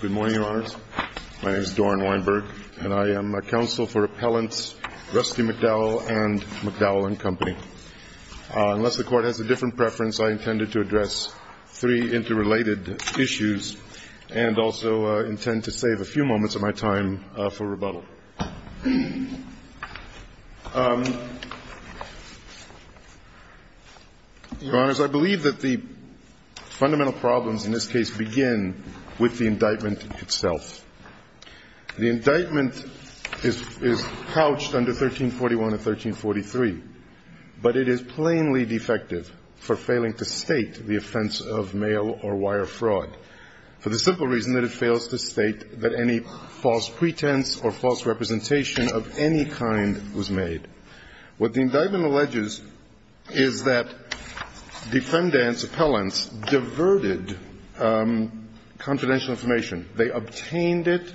Good morning, Your Honors. My name is Doran Weinberg, and I am a counsel for Appellants Rusty McDowell and McDowell & Co. Unless the Court has a different preference, I intended to address three interrelated issues and also intend to save a few moments of my time for rebuttal. Your Honors, I believe that the fundamental problems in this case begin with the indictment itself. The indictment is couched under 1341 and 1343, but it is plainly defective for failing to state the offense of mail or wire fraud for the simple reason that it fails to state that any false pretense or false representation of any kind was made. What the indictment alleges is that defendants, appellants, diverted confidential information. They obtained it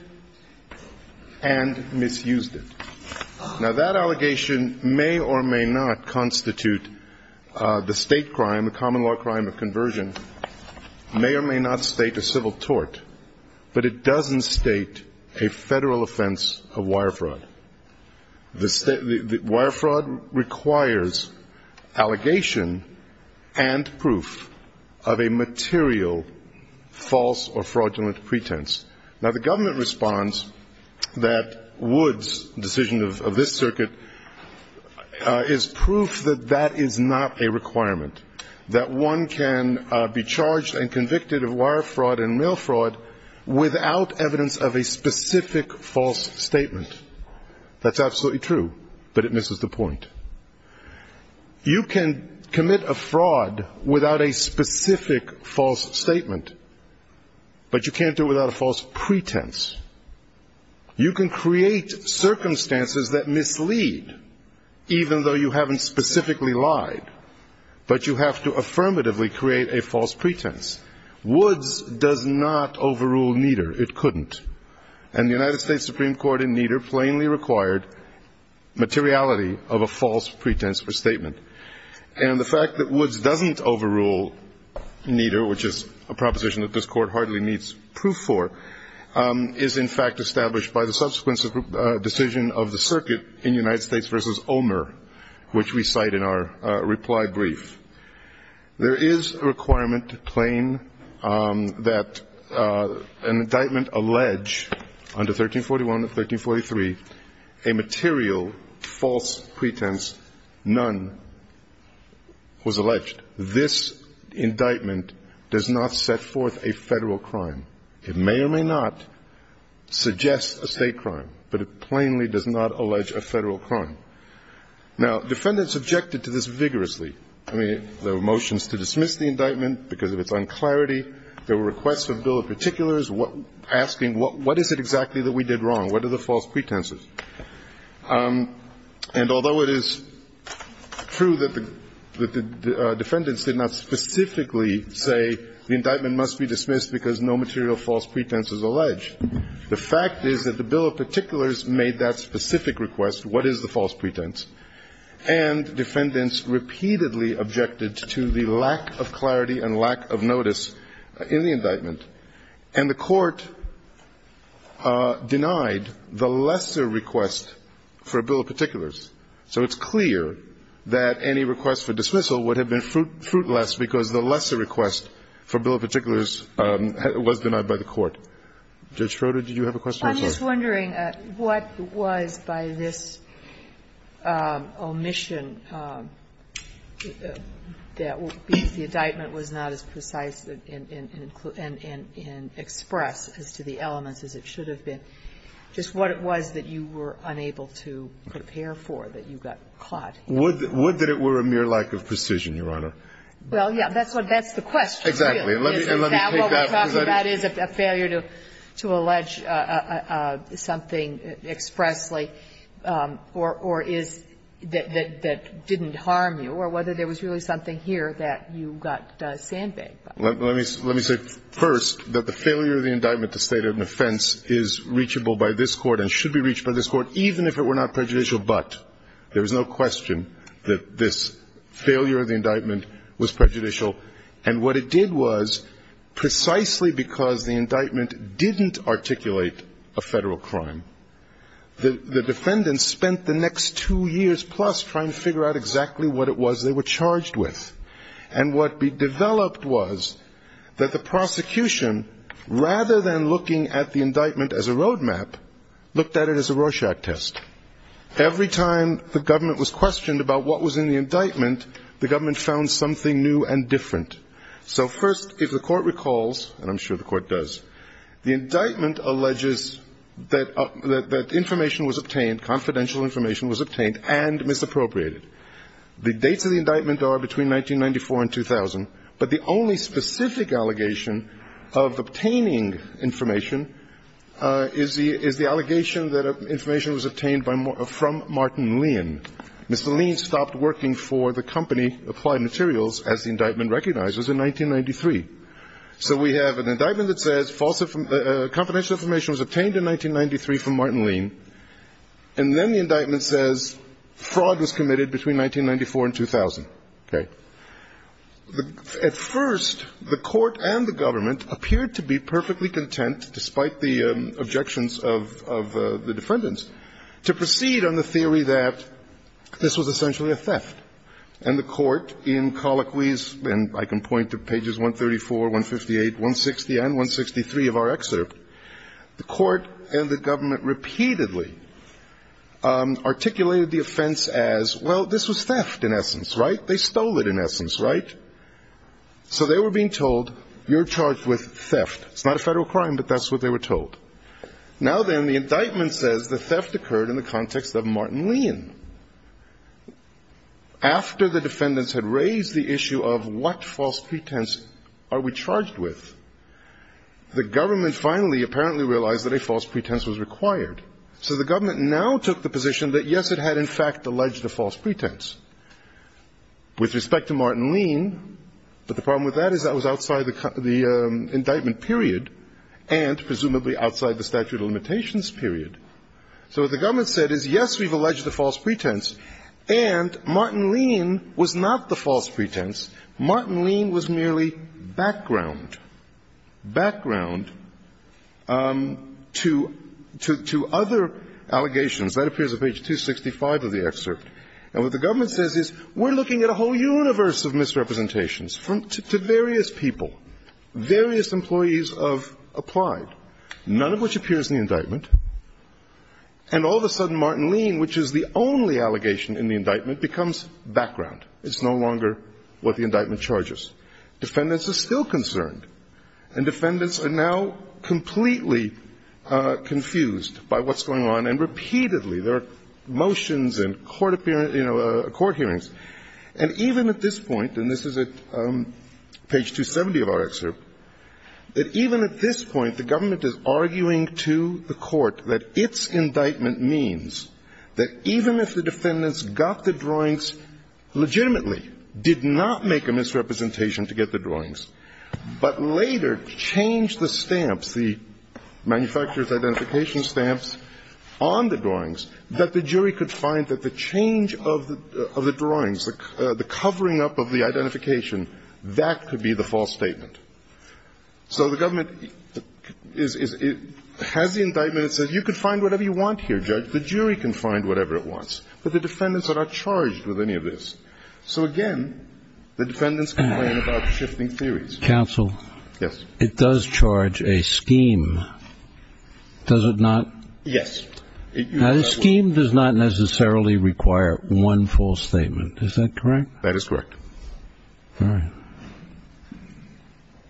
and misused it. Now, that allegation may or may not constitute the state law crime of conversion, may or may not state a civil tort, but it doesn't state a federal offense of wire fraud. Wire fraud requires allegation and proof of a material false or fraudulent pretense. Now, the government responds that Wood's decision of this circuit is proof that that is not a requirement, that one can be charged and convicted of wire fraud and mail fraud without evidence of a specific false statement. That's absolutely true, but it misses the point. You can commit a fraud without a specific false statement, but you can't do it without a false pretense. You can create circumstances that mislead, even though you haven't specifically lied, but you have to affirmatively create a false pretense. Wood's does not overrule Nieder. It couldn't. And the United States Supreme Court in Nieder plainly required materiality of a false pretense or statement. And the fact that Wood's doesn't overrule Nieder, which is a proposition that this Court hardly needs proof for, is in fact established by the subsequent decision of the circuit in United States v. Omer, which we cite in our reply brief. There is a requirement plain that an indictment allege under 1341 and 1343 a material false pretense. None was alleged. This indictment does not set forth a federal crime. It may or may not suggest a state crime, but it plainly does not allege a federal crime. Now, defendants objected to this vigorously. I mean, there were motions to dismiss the indictment because of its unclarity. There were requests for a bill of particulars asking what is it exactly that we did wrong? What are the false pretenses? And although it is true that the defendants did not specifically say the indictment must be dismissed because no material false pretense is alleged, the fact is that the bill of particulars made that specific request, what is the false pretense, and defendants repeatedly objected to the lack of clarity and lack of notice in the indictment. And the Court denied the lesser request for a bill of particulars. So it's clear that any request for dismissal would have been fruitless because the lesser request for a bill of particulars was denied by the Court. Judge Schroeder, did you have a question? I'm just wondering what was, by this omission, that the indictment was not as precise and expressed as to the elements as it should have been, just what it was that you were unable to prepare for, that you got caught? Would that it were a mere lack of precision, Your Honor? Well, yes. That's what the question is. Exactly. And let me take that one, because I don't know if that's what you're trying to say. Is it that what we're talking about is a failure to allege something expressly or is that didn't harm you, or whether there was really something here that you got sandbagged by? Let me say first that the failure of the indictment to state an offense is reachable by this Court and should be reached by this Court, even if it were not prejudicial. But there is no question that this failure of the indictment was prejudicial. And what it did was, precisely because the indictment didn't articulate a federal crime, the defendants spent the next two years plus trying to figure out exactly what it was they were charged with. And what developed was that the prosecution, rather than looking at the indictment as a roadmap, looked at it as a Rorschach test. Every time the government was questioned about what was in the indictment, the So first, if the Court recalls, and I'm sure the Court does, the indictment alleges that information was obtained, confidential information was obtained and misappropriated. The dates of the indictment are between 1994 and 2000, but the only specific allegation of obtaining information is the allegation that information was obtained from Martin Lean. Mr. Lean stopped working for the company Applied Materials, as the indictment recognizes, in 1993. So we have an indictment that says confidential information was obtained in 1993 from Martin Lean, and then the indictment says fraud was committed between 1994 and 2000. Okay? At first, the Court and the government appeared to be perfectly content, despite the objections of the defendants, to proceed on the theory that this was essentially a theft. And the Court, in colloquies, and I can point to pages 134, 158, 160, and 163 of our excerpt, the Court and the government repeatedly articulated the offense as, well, this was theft in essence, right? They stole it in essence, right? So they were being told, you're charged with theft. It's not a Federal crime, but that's what they were told. Now then, the indictment says the theft occurred in the context of Martin Lean. After the defendants had raised the issue of what false pretense are we charged with, the government finally apparently realized that a false pretense was required. So the government now took the position that, yes, it had in fact alleged a false pretense. With respect to Martin Lean, but the problem with that is that was outside the indictment period and presumably outside the statute of limitations period. So what the government said is, yes, we've alleged a false pretense, and Martin Lean was not the false pretense. Martin Lean was merely background, background to other allegations. That appears on page 265 of the excerpt. And what the government says is, we're looking at a whole universe of misrepresentations to various people, various employees of Applied, none of which appears in the indictment. And all of a sudden Martin Lean, which is the only allegation in the indictment, becomes background. It's no longer what the indictment charges. Defendants are still concerned. And defendants are now completely confused by what's going on. And repeatedly there are motions and court hearings. And even at this point, and this is at page 270 of our excerpt, that even at this point the government is arguing to the court that its indictment means that even if the defendants got the drawings legitimately, did not make a misrepresentation to get the drawings, but later changed the stamps, the manufacturer's identification stamps on the drawings, that the jury could find that the change of the drawings, the covering up of the identification, that could be the false statement. So the government has the indictment that says you can find whatever you want here, Judge. The jury can find whatever it wants. But the defendants are not charged with any of this. So, again, the defendants complain about shifting theories. Counsel, it does charge a scheme. Does it not? Yes. A scheme does not necessarily require one false statement. Is that correct? That is correct. All right.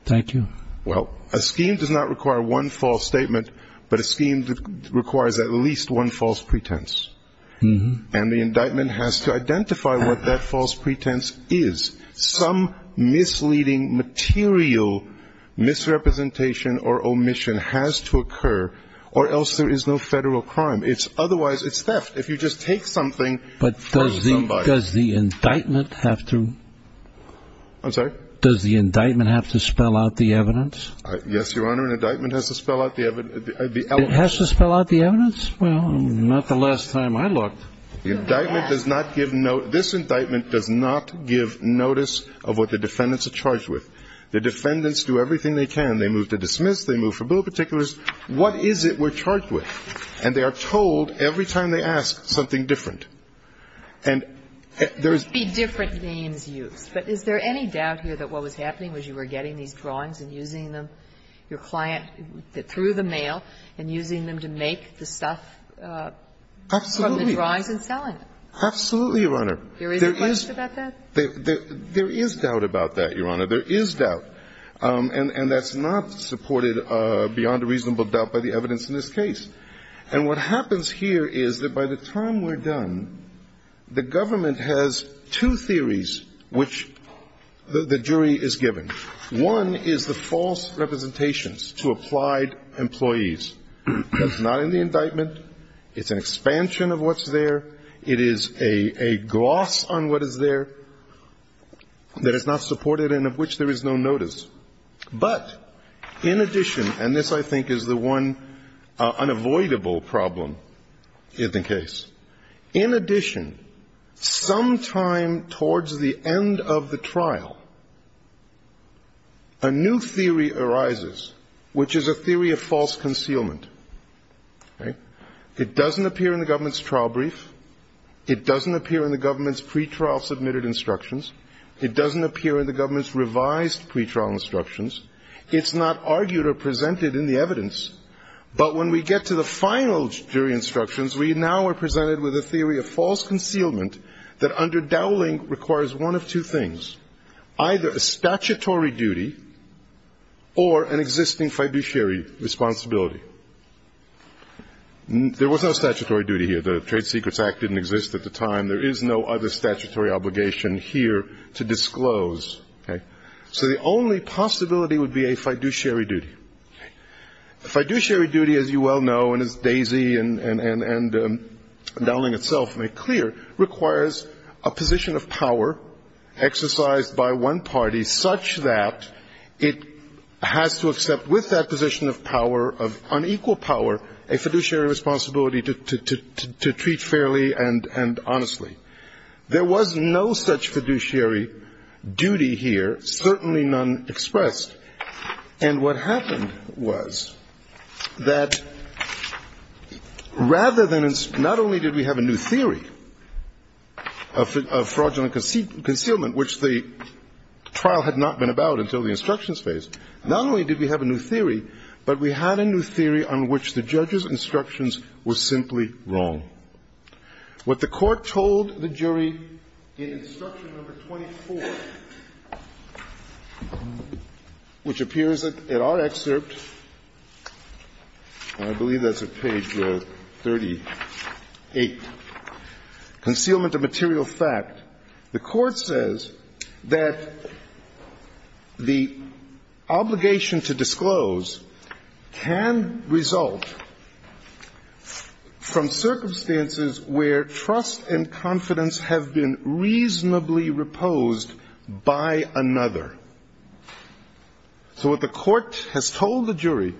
Thank you. Well, a scheme does not require one false statement, but a scheme requires at least one false pretense. And the indictment has to identify what that false pretense is. Some misleading material misrepresentation or omission has to occur, or else there is no federal crime. Otherwise, it's theft. If you just take something from somebody. But does the indictment have to spell out the evidence? Yes, Your Honor, an indictment has to spell out the evidence. It has to spell out the evidence? Well, not the last time I looked. The indictment does not give note. This indictment does not give notice of what the defendants are charged with. The defendants do everything they can. They move to dismiss. They move for bill particulars. What is it we're charged with? And they are told every time they ask something different. And there's be different names used. But is there any doubt here that what was happening was you were getting these drawings and using them, your client, through the mail, and using them to make the stuff from the drawings and selling them? Absolutely, Your Honor. There is a question about that? There is doubt about that, Your Honor. There is doubt. And that's not supported beyond a reasonable doubt by the evidence in this case. And what happens here is that by the time we're done, the government has two theories which the jury is given. One is the false representations to applied employees. That's not in the indictment. It's an expansion of what's there. It is a gloss on what is there that is not supported and of which there is no notice. But in addition, and this, I think, is the one unavoidable problem in the case, in addition, sometime towards the end of the trial, a new theory arises, which is a theory of false concealment. It doesn't appear in the government's trial brief. It doesn't appear in the government's pretrial submitted instructions. It doesn't appear in the government's revised pretrial instructions. It's not argued or presented in the evidence. But when we get to the final jury instructions, we now are presented with a theory of false concealment that under Dowling requires one of two things, either a statutory duty or an existing fiduciary responsibility. There was no statutory duty here. The Trade Secrets Act didn't exist at the time. There is no other statutory obligation here to disclose. So the only possibility would be a fiduciary duty. A fiduciary duty, as you well know, and as Daisy and Dowling itself make clear, requires a position of power exercised by one party such that it has to accept with that position of power, of unequal power, a fiduciary responsibility to treat fairly and honestly. There was no such fiduciary duty here, certainly none expressed. And what happened was that rather than, not only did we have a new theory of fraudulent concealment, which the trial had not been about until the instructions phase, not only did we have a new theory, but we had a new theory on which the judge's instructions were simply wrong. What the Court told the jury in Instruction No. 24, which appears in our excerpt and I believe that's at page 38, Concealment of Material Fact, the Court says that the obligation to disclose can result from circumstances in which the judge's trust and confidence have been reasonably reposed by another. So what the Court has told the jury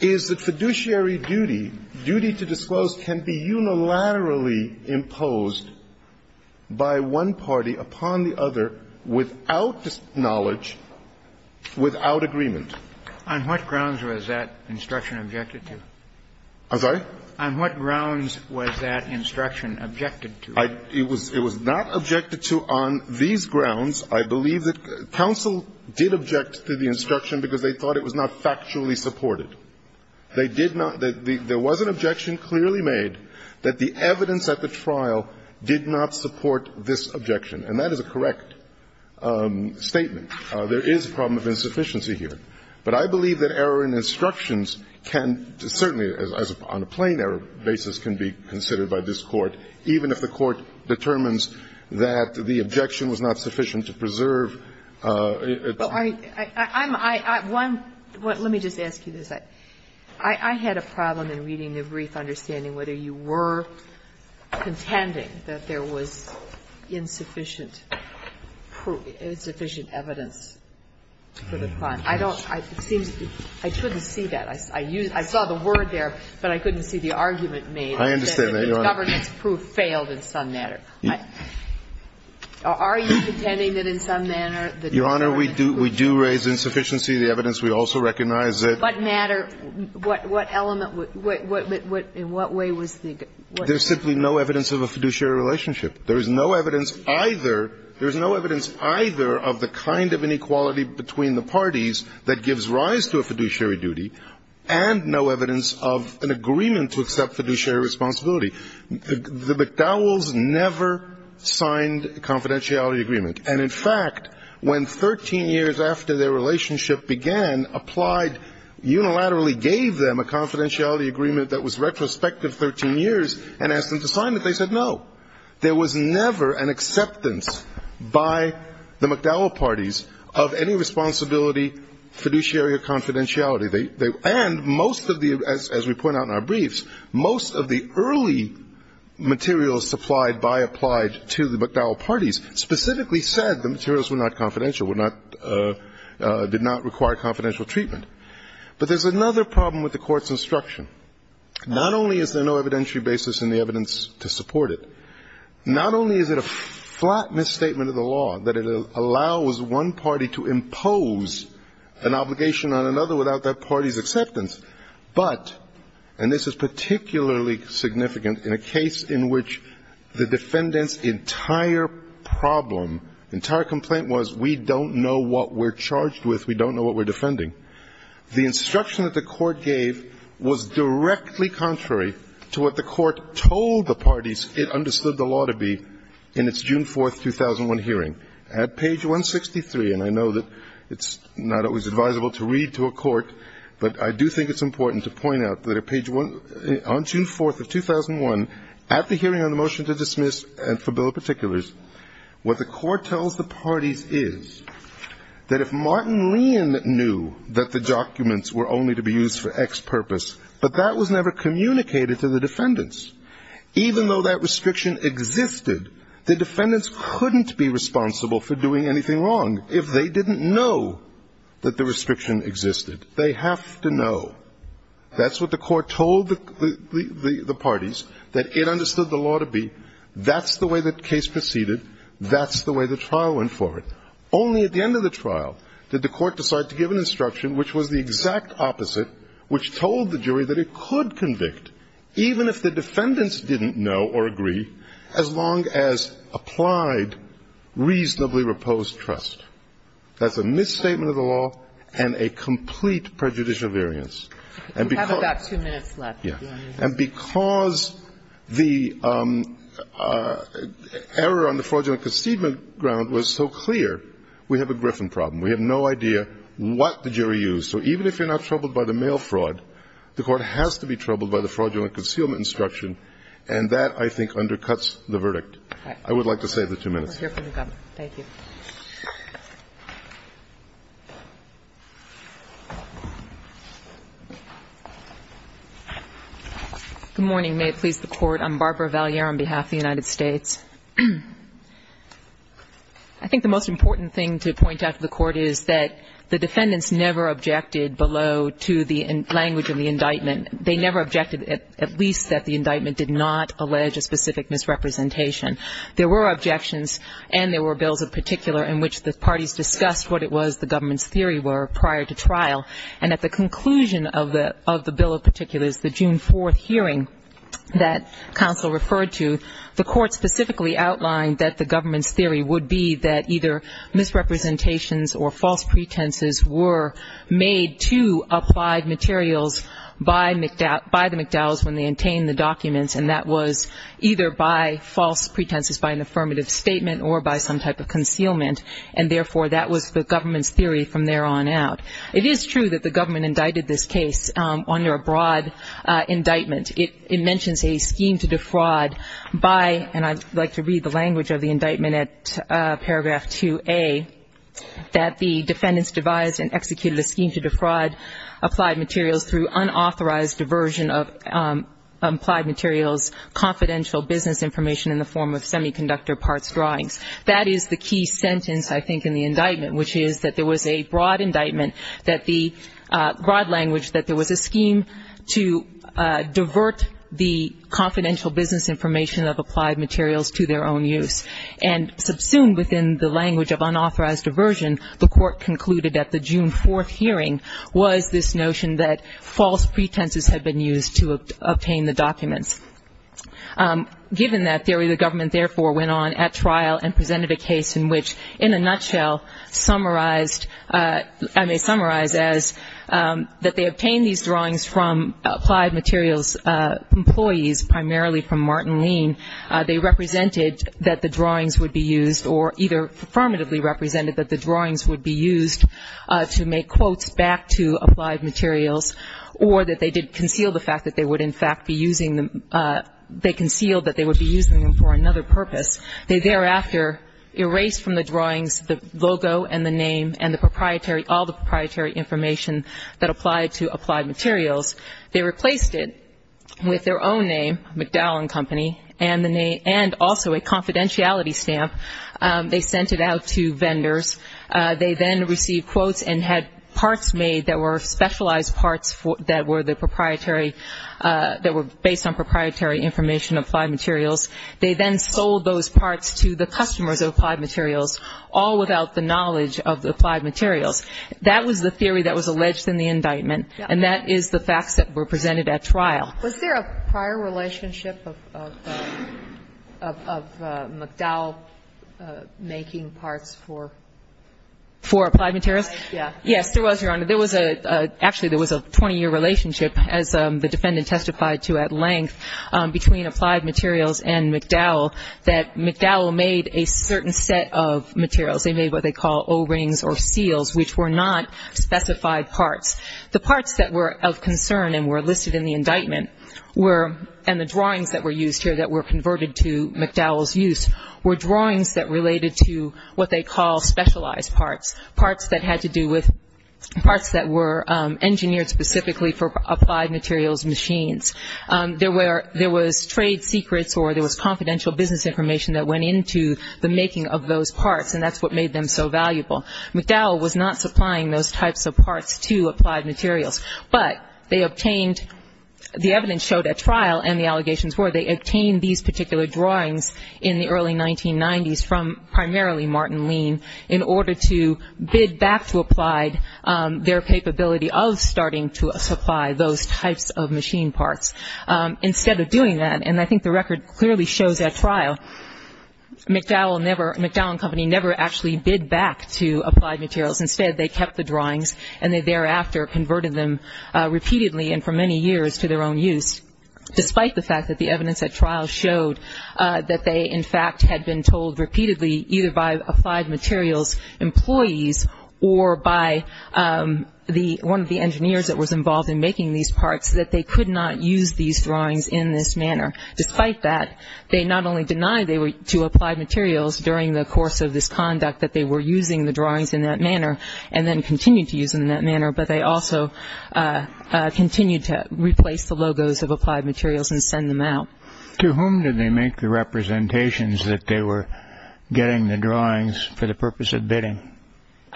is that fiduciary duty, duty to disclose, can be unilaterally imposed by one party upon the other without knowledge, without agreement. On what grounds was that instruction objected to? I'm sorry? On what grounds was that instruction objected to? It was not objected to on these grounds. I believe that counsel did object to the instruction because they thought it was not factually supported. They did not. There was an objection clearly made that the evidence at the trial did not support this objection, and that is a correct statement. There is a problem of insufficiency here. But I believe that error in instructions can certainly, on a plain error basis, can be considered by this Court, even if the Court determines that the objection was not sufficient to preserve it. Well, I'm one. Let me just ask you this. I had a problem in reading the brief understanding whether you were contending that there was insufficient evidence for the crime. I don't seem to be – I couldn't see that. I saw the word there, but I couldn't see the argument made. I understand that, Your Honor. That the governance proof failed in some manner. Are you contending that in some manner that the government's proof failed? Your Honor, we do raise insufficiency. The evidence, we also recognize that – What matter? What element? In what way was the – There is simply no evidence of a fiduciary relationship. There is no evidence either – there is no evidence either of the kind of inequality between the parties that gives rise to a fiduciary duty, and no evidence of an agreement to accept fiduciary responsibility. The McDowells never signed a confidentiality agreement. And in fact, when 13 years after their relationship began, applied unilaterally gave them a confidentiality agreement that was retrospective 13 years and asked them to sign it, they said no. There was never an acceptance by the McDowell parties of any responsibility, fiduciary or confidentiality. And most of the – as we point out in our briefs, most of the early materials supplied by applied to the McDowell parties specifically said the materials were not confidential, were not – did not require confidential treatment. But there's another problem with the Court's instruction. Not only is there no evidentiary basis in the evidence to support it, not only is it a flat misstatement of the law that it allows one party to impose an obligation on another without that party's acceptance, but – and this is particularly significant in a case in which the defendant's entire problem, entire complaint was we don't know what we're charged with, we don't know what we're defending. The instruction that the Court gave was directly contrary to what the Court told the defendants when they understood the law to be in its June 4th, 2001 hearing. At page 163, and I know that it's not always advisable to read to a court, but I do think it's important to point out that at page – on June 4th of 2001, at the hearing on the motion to dismiss and for bill of particulars, what the Court tells the parties is that if Martin Lein knew that the documents were only to be used for X purpose, but that was never communicated to the defendants, even though that restriction existed, the defendants couldn't be responsible for doing anything wrong if they didn't know that the restriction existed. They have to know. That's what the Court told the parties, that it understood the law to be. That's the way the case proceeded. That's the way the trial went forward. Only at the end of the trial did the Court decide to give an instruction which was the exact opposite, which told the jury that it could convict, even if the defendants didn't know or agree, as long as applied reasonably reposed trust. That's a misstatement of the law and a complete prejudicial variance. And because – We have about two minutes left. Yes. And because the error on the fraudulent concedement ground was so clear, we have a Griffin problem. We have no idea what the jury used. So even if you're not troubled by the mail fraud, the Court has to be troubled by the fraudulent concealment instruction, and that, I think, undercuts the verdict. I would like to save the two minutes. We're here for the government. Thank you. Good morning. May it please the Court. I'm Barbara Valliere on behalf of the United States. I think the most important thing to point out to the Court is that the defendants never objected below to the language of the indictment. They never objected at least that the indictment did not allege a specific misrepresentation. There were objections, and there were bills in particular in which the parties discussed what it was the government's theory were prior to trial. And at the conclusion of the bill of particulars, the June 4th hearing that counsel referred to, the Court specifically outlined that the government's theory would be that either misrepresentations or false pretenses were made to applied materials by the McDowells when they obtained the documents, and that was either by false pretenses, by an affirmative statement, or by some type of concealment, and therefore that was the government's theory from there on out. It is true that the government indicted this case under a broad indictment. It mentions a scheme to defraud by, and I'd like to read the language of the indictment at paragraph 2A, that the defendants devised and executed a scheme to defraud applied materials through unauthorized diversion of applied materials, confidential business information in the form of semiconductor parts drawings. That is the key sentence, I think, in the indictment, which is that there was a broad language that there was a scheme to distort the confidential business information of applied materials to their own use, and subsumed within the language of unauthorized diversion, the Court concluded at the June 4th hearing was this notion that false pretenses had been used to obtain the documents. Given that theory, the government therefore went on at trial and presented a case in which, in a nutshell, summarized, I may summarize as that they obtained these drawings from applied materials employees, primarily from Martin Lean. They represented that the drawings would be used, or either affirmatively represented that the drawings would be used to make quotes back to applied materials, or that they did conceal the fact that they would, in fact, be using them. They concealed that they would be using them for another purpose. They thereafter erased from the drawings the logo and the name and the proprietary, all the proprietary information that applied to applied materials. They replaced it with their own name, McDowell and Company, and also a confidentiality stamp. They sent it out to vendors. They then received quotes and had parts made that were specialized parts that were the proprietary, that were based on proprietary information, applied materials. They then sold those parts to the customers of applied materials, all without the knowledge of the applied materials. That was the theory that was alleged in the indictment. And that is the facts that were presented at trial. Was there a prior relationship of McDowell making parts for? For applied materials? Yes. Yes, there was, Your Honor. There was a 20-year relationship, as the defendant testified to at length, between applied materials and McDowell, that McDowell made a certain set of materials. They made what they call O-rings or seals, which were not specified parts. The parts that were of concern and were listed in the indictment were, and the drawings that were used here that were converted to McDowell's use, were drawings that related to what they call specialized parts, parts that had to do with parts that were engineered specifically for applied materials machines. There was trade secrets or there was confidential business information that went into the making of those parts, and that's what made them so valuable. McDowell was not supplying those types of parts to applied materials, but they obtained, the evidence showed at trial and the allegations were, they obtained these particular drawings in the early 1990s from primarily Martin Lean in order to bid back to applied their capability of starting to supply those types of machine parts. Instead of doing that, and I think the record clearly shows at trial, McDowell and company never actually bid back to applied materials. Instead, they kept the drawings and they thereafter converted them repeatedly and for many years to their own use, despite the fact that the evidence at trial showed that they, in fact, had been told repeatedly either by applied materials employees or by one of the engineers that was involved in making these parts that they could not use these drawings in this manner. Despite that, they not only denied to applied materials during the course of this conduct that they were using the drawings in that manner and then continued to use them in that manner, but they also continued to replace the logos of applied materials and send them out. To whom did they make the representations that they were getting the drawings for the purpose of bidding?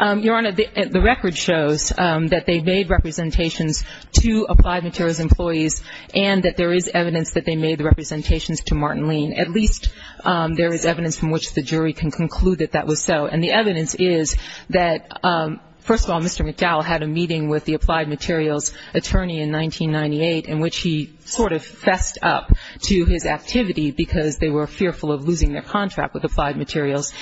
Your Honor, the record shows that they made representations to applied materials employees and that there is evidence that they made representations to Martin Lean. At least there is evidence from which the jury can conclude that that was so. And the evidence is that, first of all, Mr. McDowell had a meeting with the applied materials attorney in 1998 in which he sort of fessed up to his activity because they were fearful of losing their contract with applied materials.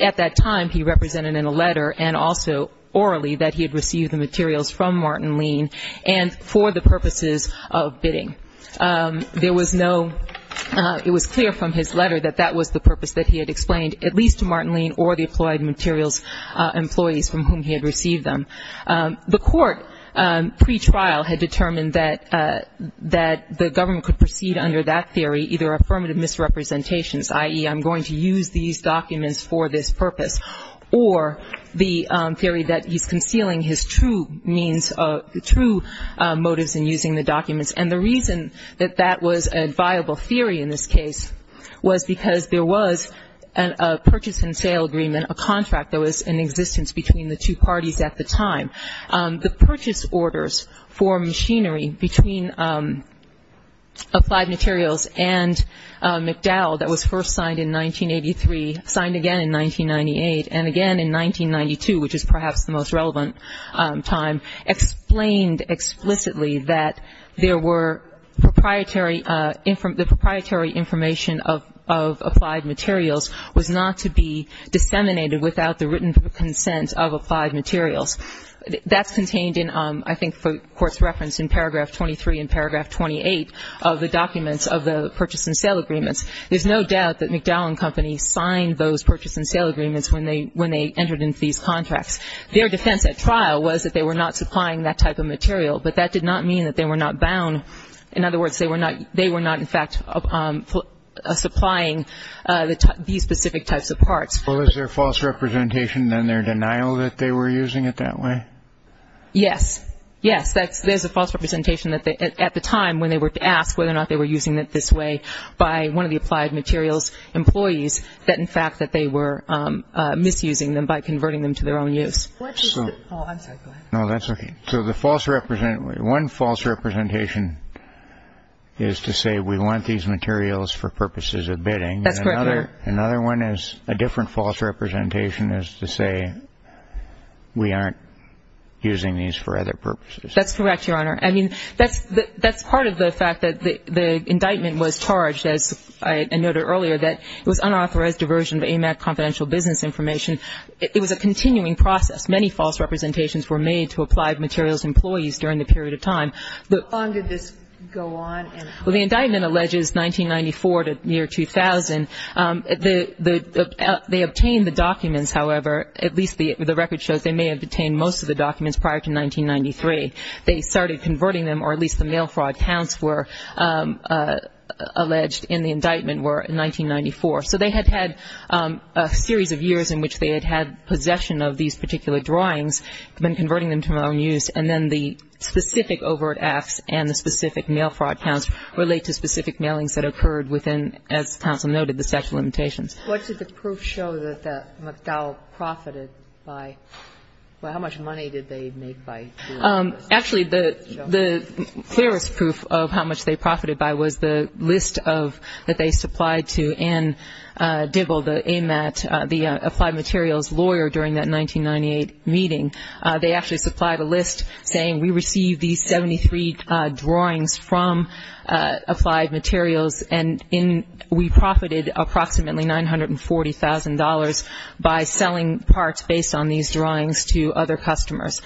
At that time, he represented in a letter and also orally that he had received the materials from Martin Lean and for the purposes of bidding. It was clear from his letter that that was the purpose that he had explained, at least to Martin Lean or the applied materials employees from whom he had received them. The court, pre-trial, had determined that the government could proceed under that theory, either affirmative misrepresentations, i.e., I'm going to use these documents for this purpose, or the theory that he's concealing his true motives in using the documents. And the reason that that was a viable theory in this case was because there was a purchase and sale agreement, a contract that was in existence between the two parties at the time. The purchase orders for machinery between Applied Materials and McDowell that was first signed in 1983, signed again in 1998, and again in 1992, which is perhaps the most relevant time, explained explicitly that there were proprietary, the proprietary information of Applied Materials was not to be disseminated without the written consent of Applied Materials. That's contained in, I think, the Court's reference in paragraph 23 and paragraph 28 of the documents of the purchase and sale agreements. There's no doubt that McDowell and Company signed those purchase and sale agreements when they entered into these contracts. Their defense at trial was that they were not supplying that type of material, but that did not mean that they were not bound. In other words, they were not, in fact, supplying these specific types of parts. Well, is there false representation in their denial that they were using it that way? Yes. Yes, there's a false representation at the time when they were asked whether or not they were using it this way by one of the Applied Materials employees that, in fact, that they were misusing them by converting them to their own use. Oh, I'm sorry. Go ahead. No, that's okay. So the false representation, one false representation is to say we want these materials for purposes of bidding. That's correct, Your Honor. Another one is a different false representation is to say we aren't using these for other purposes. That's correct, Your Honor. I mean, that's part of the fact that the indictment was charged, as I noted earlier, that it was unauthorized diversion of AMAC confidential business information. It was a continuing process. Many false representations were made to Applied Materials employees during the period of time. How long did this go on? Well, the indictment alleges 1994 to the year 2000. They obtained the documents, however, at least the record shows they may have obtained most of the documents prior to 1993. They started converting them, or at least the mail fraud counts were alleged in the indictment were in 1994. So they had had a series of years in which they had had possession of these particular drawings, been converting them to their own use, and then the specific overt acts and the specific mail fraud counts relate to specific mailings that occurred within, as counsel noted, the statute of limitations. What did the proof show that McDowell profited by? How much money did they make by doing this? Actually, the clearest proof of how much they profited by was the list of, that they supplied to Ann Dibble, the AMAT, the Applied Materials lawyer, during that 1998 meeting. They actually supplied a list saying we received these 73 drawings from Applied Materials and we profited approximately $940,000 by selling parts based on these drawings to other customers.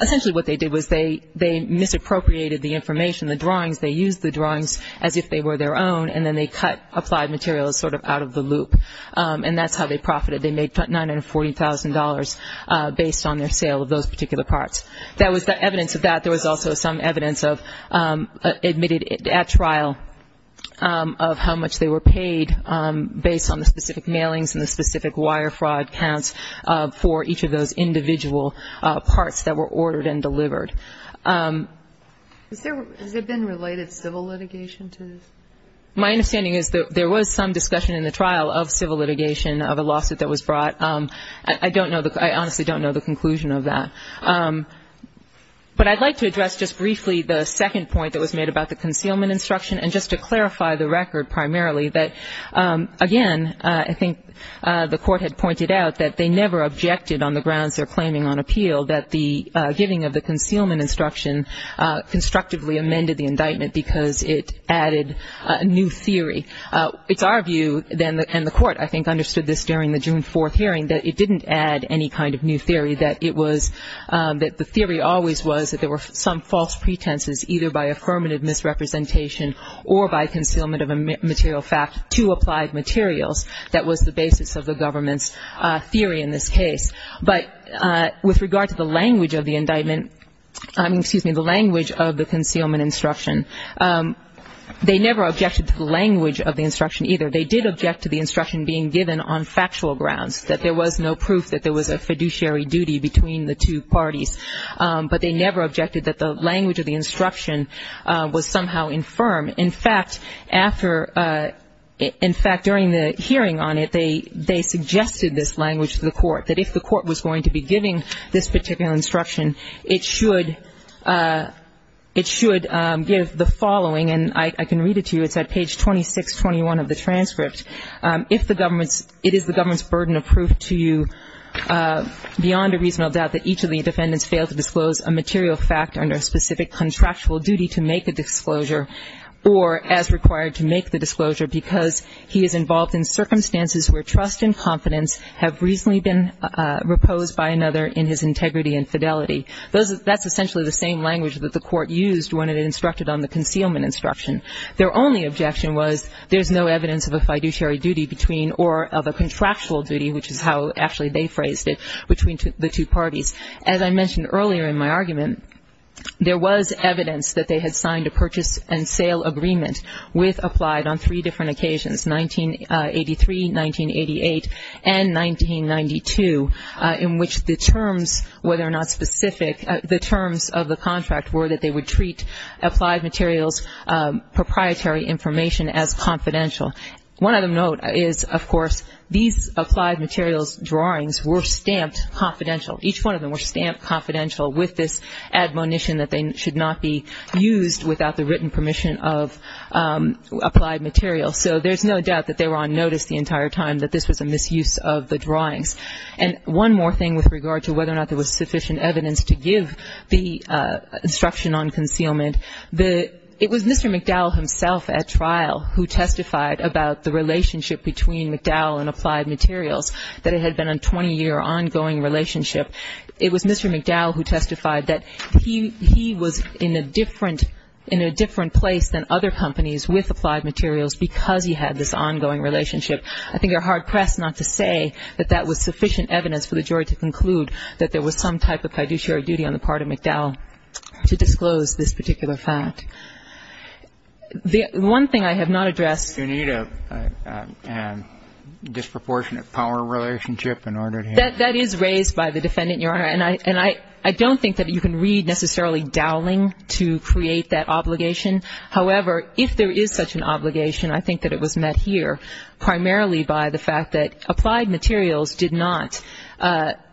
Essentially what they did was they misappropriated the information, the drawings. They used the drawings as if they were their own, and then they cut Applied Materials sort of out of the loop, and that's how they profited. They made $940,000 based on their sale of those particular parts. That was the evidence of that. There was also some evidence admitted at trial of how much they were paid based on the specific mailings and the specific wire fraud counts for each of those individual parts that were ordered and delivered. Has there been related civil litigation to this? My understanding is that there was some discussion in the trial of civil litigation of a lawsuit that was brought. I don't know the – I honestly don't know the conclusion of that. But I'd like to address just briefly the second point that was made about the concealment instruction and just to clarify the record primarily that, again, I think the Court had pointed out that they never objected on the grounds they're claiming on appeal that the giving of the concealment instruction constructively amended the indictment because it added a new theory. It's our view, and the Court, I think, understood this during the June 4th hearing, that it didn't add any kind of new theory, that the theory always was that there were some false pretenses either by affirmative misrepresentation or by concealment of a material fact to Applied Materials that was the basis of the government's theory in this case. But with regard to the language of the indictment – I mean, excuse me, the language of the concealment instruction, they never objected to the language of the instruction either. They did object to the instruction being given on factual grounds, that there was no proof that there was a fiduciary duty between the two parties. But they never objected that the language of the instruction was somehow infirm. In fact, during the hearing on it, they suggested this language to the Court, that if the Court was going to be giving this particular instruction, it should give the following, and I can read it to you, it's at page 2621 of the transcript. If it is the government's burden of proof to you beyond a reasonable doubt that each of the defendants failed to disclose a material fact under a specific contractual duty to make a disclosure, or as required to make the disclosure because he is involved in circumstances where trust and confidence have reasonably been reposed by another in his integrity and fidelity. That's essentially the same language that the Court used when it instructed on the concealment instruction. Their only objection was there's no evidence of a fiduciary duty between or of a contractual duty, which is how actually they phrased it, between the two parties. As I mentioned earlier in my argument, there was evidence that they had signed a purchase and sale agreement with Applied on three different occasions, 1983, 1988, and 1992, in which the terms, whether or not specific, the terms of the contract were that they would treat Applied Materials' proprietary information as confidential. One other note is, of course, these Applied Materials drawings were stamped confidential. Each one of them were stamped confidential with this admonition that they should not be used without the written permission of Applied Materials. So there's no doubt that they were on notice the entire time that this was a misuse of the drawings. And one more thing with regard to whether or not there was sufficient evidence to give the instruction on concealment. It was Mr. McDowell himself at trial who testified about the relationship between McDowell and Applied Materials, that it had been a 20-year ongoing relationship. It was Mr. McDowell who testified that he was in a different place than other companies with Applied Materials because he had this ongoing relationship. I think they're hard-pressed not to say that that was sufficient evidence for the jury to conclude that there was some type of fiduciary duty on the part of McDowell to disclose this particular fact. The one thing I have not addressed. Do you need a disproportionate power relationship in order to hear that? That is raised by the defendant, Your Honor. And I don't think that you can read necessarily Dowling to create that obligation. However, if there is such an obligation, I think that it was met here primarily by the fact that Applied Materials did not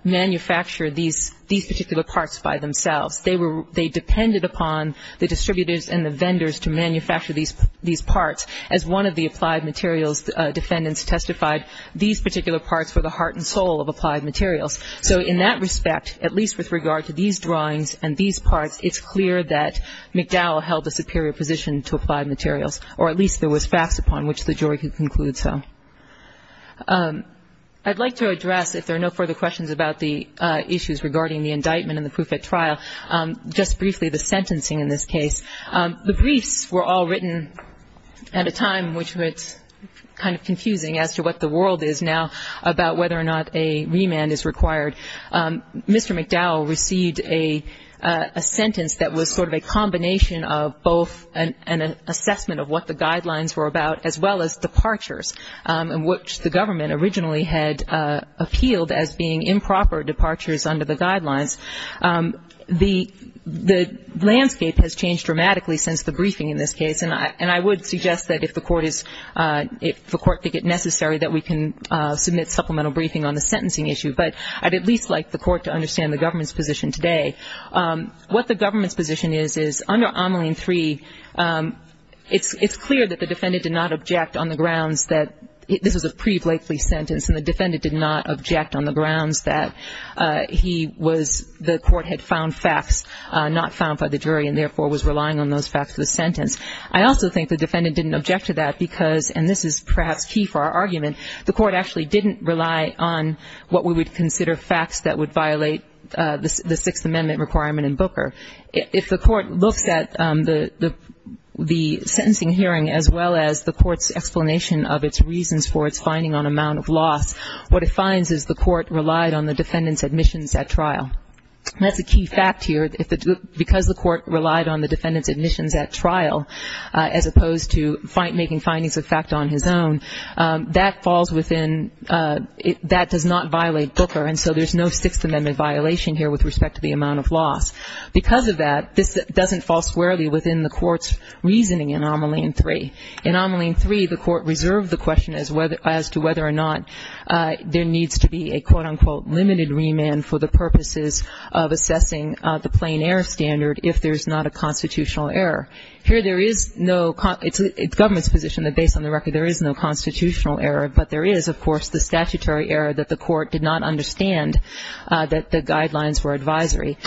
manufacture these particular parts by themselves. They depended upon the distributors and the vendors to manufacture these parts. As one of the Applied Materials defendants testified, these particular parts were the heart and soul of Applied Materials. So in that respect, at least with regard to these drawings and these parts, it's clear that McDowell held a superior position to Applied Materials, or at least there was facts upon which the jury could conclude so. I'd like to address, if there are no further questions about the issues regarding the indictment and the proof at trial, just briefly the sentencing in this case. The briefs were all written at a time which was kind of confusing as to what the world is now about whether or not a remand is required. Mr. McDowell received a sentence that was sort of a combination of both an assessment of what the guidelines were about as well as departures, which the government originally had appealed as being improper departures under the guidelines. The landscape has changed dramatically since the briefing in this case, and I would suggest that if the court is, if the court think it necessary, that we can submit supplemental briefing on the sentencing issue. But I'd at least like the court to understand the government's position today. What the government's position is, is under Omeline 3, it's clear that the defendant did not object on the grounds that this was a pre-Blakely sentence and the defendant did not object on the grounds that he was, the court had found facts not found by the jury and therefore was relying on those facts for the sentence. I also think the defendant didn't object to that because, and this is perhaps key for our argument, the court actually didn't rely on what we would consider facts that would violate the Sixth Amendment requirement in Booker. If the court looks at the sentencing hearing as well as the court's explanation of its reasons for its finding on amount of loss, what it finds is the court relied on the defendant's admissions at trial. That's a key fact here. Because the court relied on the defendant's admissions at trial as opposed to making findings of fact on his own, that falls within, that does not violate Booker, and so there's no Sixth Amendment violation here with respect to the amount of loss. Because of that, this doesn't fall squarely within the court's reasoning in Omeline 3. In Omeline 3, the court reserved the question as to whether or not there needs to be a, quote, unquote, limited remand for the purposes of assessing the plain error standard if there's not a constitutional error. Here there is no, it's the government's position that based on the record there is no constitutional error, but there is, of course, the statutory error that the court did not understand that the guidelines were advisory.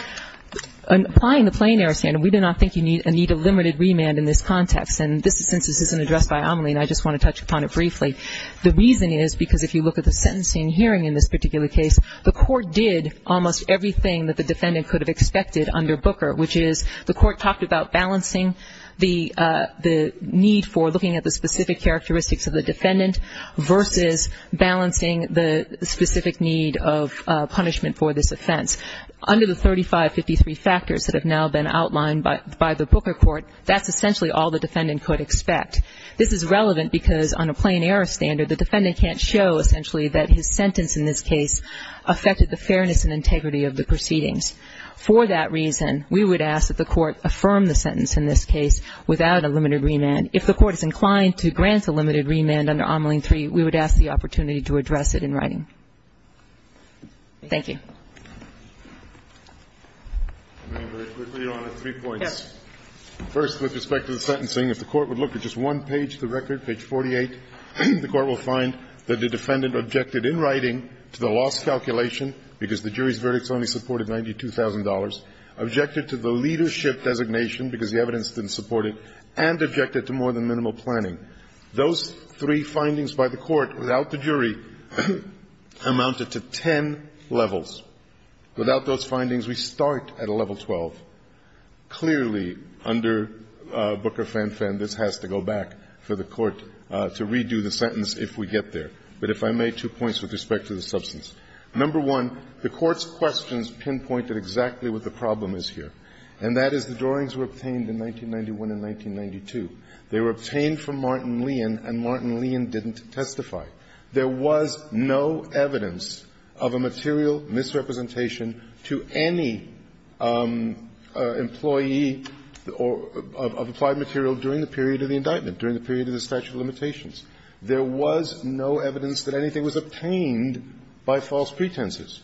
Applying the plain error standard, we do not think you need a limited remand in this context, and since this isn't addressed by Omeline, I just want to touch upon it briefly. The reason is because if you look at the sentencing hearing in this particular case, the court did almost everything that the defendant could have expected under Booker, which is the court talked about balancing the need for looking at the specific characteristics of the defendant versus balancing the specific need of punishment for this offense. Under the 3553 factors that have now been outlined by the Booker court, that's essentially all the defendant could expect. This is relevant because on a plain error standard, the defendant can't show essentially that his sentence in this case affected the fairness and integrity of the proceedings. For that reason, we would ask that the court affirm the sentence in this case without a limited remand. If the court is inclined to grant a limited remand under Omeline III, we would ask the opportunity to address it in writing. Thank you. Very quickly, Your Honor, three points. First, with respect to the sentencing, if the court would look at just one page of the record, page 48, the court will find that the defendant objected in writing to the loss calculation because the jury's verdicts only supported $92,000, objected to the leadership designation because the evidence didn't support it, and objected to more than minimal planning. Those three findings by the court without the jury amounted to ten levels. Without those findings, we start at a level 12. Clearly, under Booker-Fan-Fan, this has to go back for the court to redo the sentence if we get there. But if I may, two points with respect to the substance. Number one, the court's questions pinpointed exactly what the problem is here, and that is the drawings were obtained in 1991 and 1992. They were obtained from Martin Leon, and Martin Leon didn't testify. There was no evidence of a material misrepresentation to any employee or of applied material during the period of the indictment, during the period of the statute of limitations. There was no evidence that anything was obtained by false pretenses.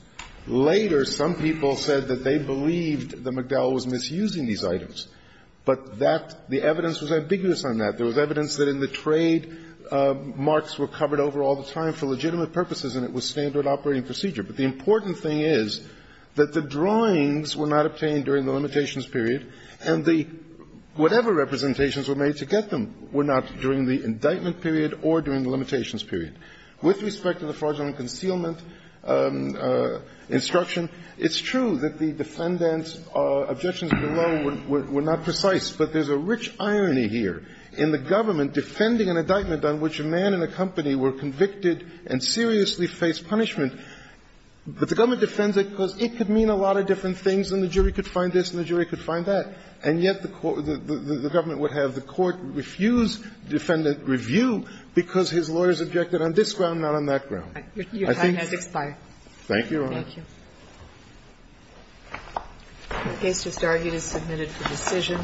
Later, some people said that they believed that McDowell was misusing these items. But that the evidence was ambiguous on that. There was evidence that in the trade, marks were covered over all the time for legitimate purposes, and it was standard operating procedure. But the important thing is that the drawings were not obtained during the limitations period, and the whatever representations were made to get them were not during the indictment period or during the limitations period. With respect to the fraudulent concealment instruction, it's true that the defendant's objections below were not precise, but there's a rich irony here in the government defending an indictment on which a man and a company were convicted and seriously faced punishment, but the government defends it because it could mean a lot of different things, and the jury could find this, and the jury could find that, and yet the government would have the court refuse defendant review because his lawyers objected on this ground, not on that ground. I think it's the same thing. The case just argued is submitted for decision.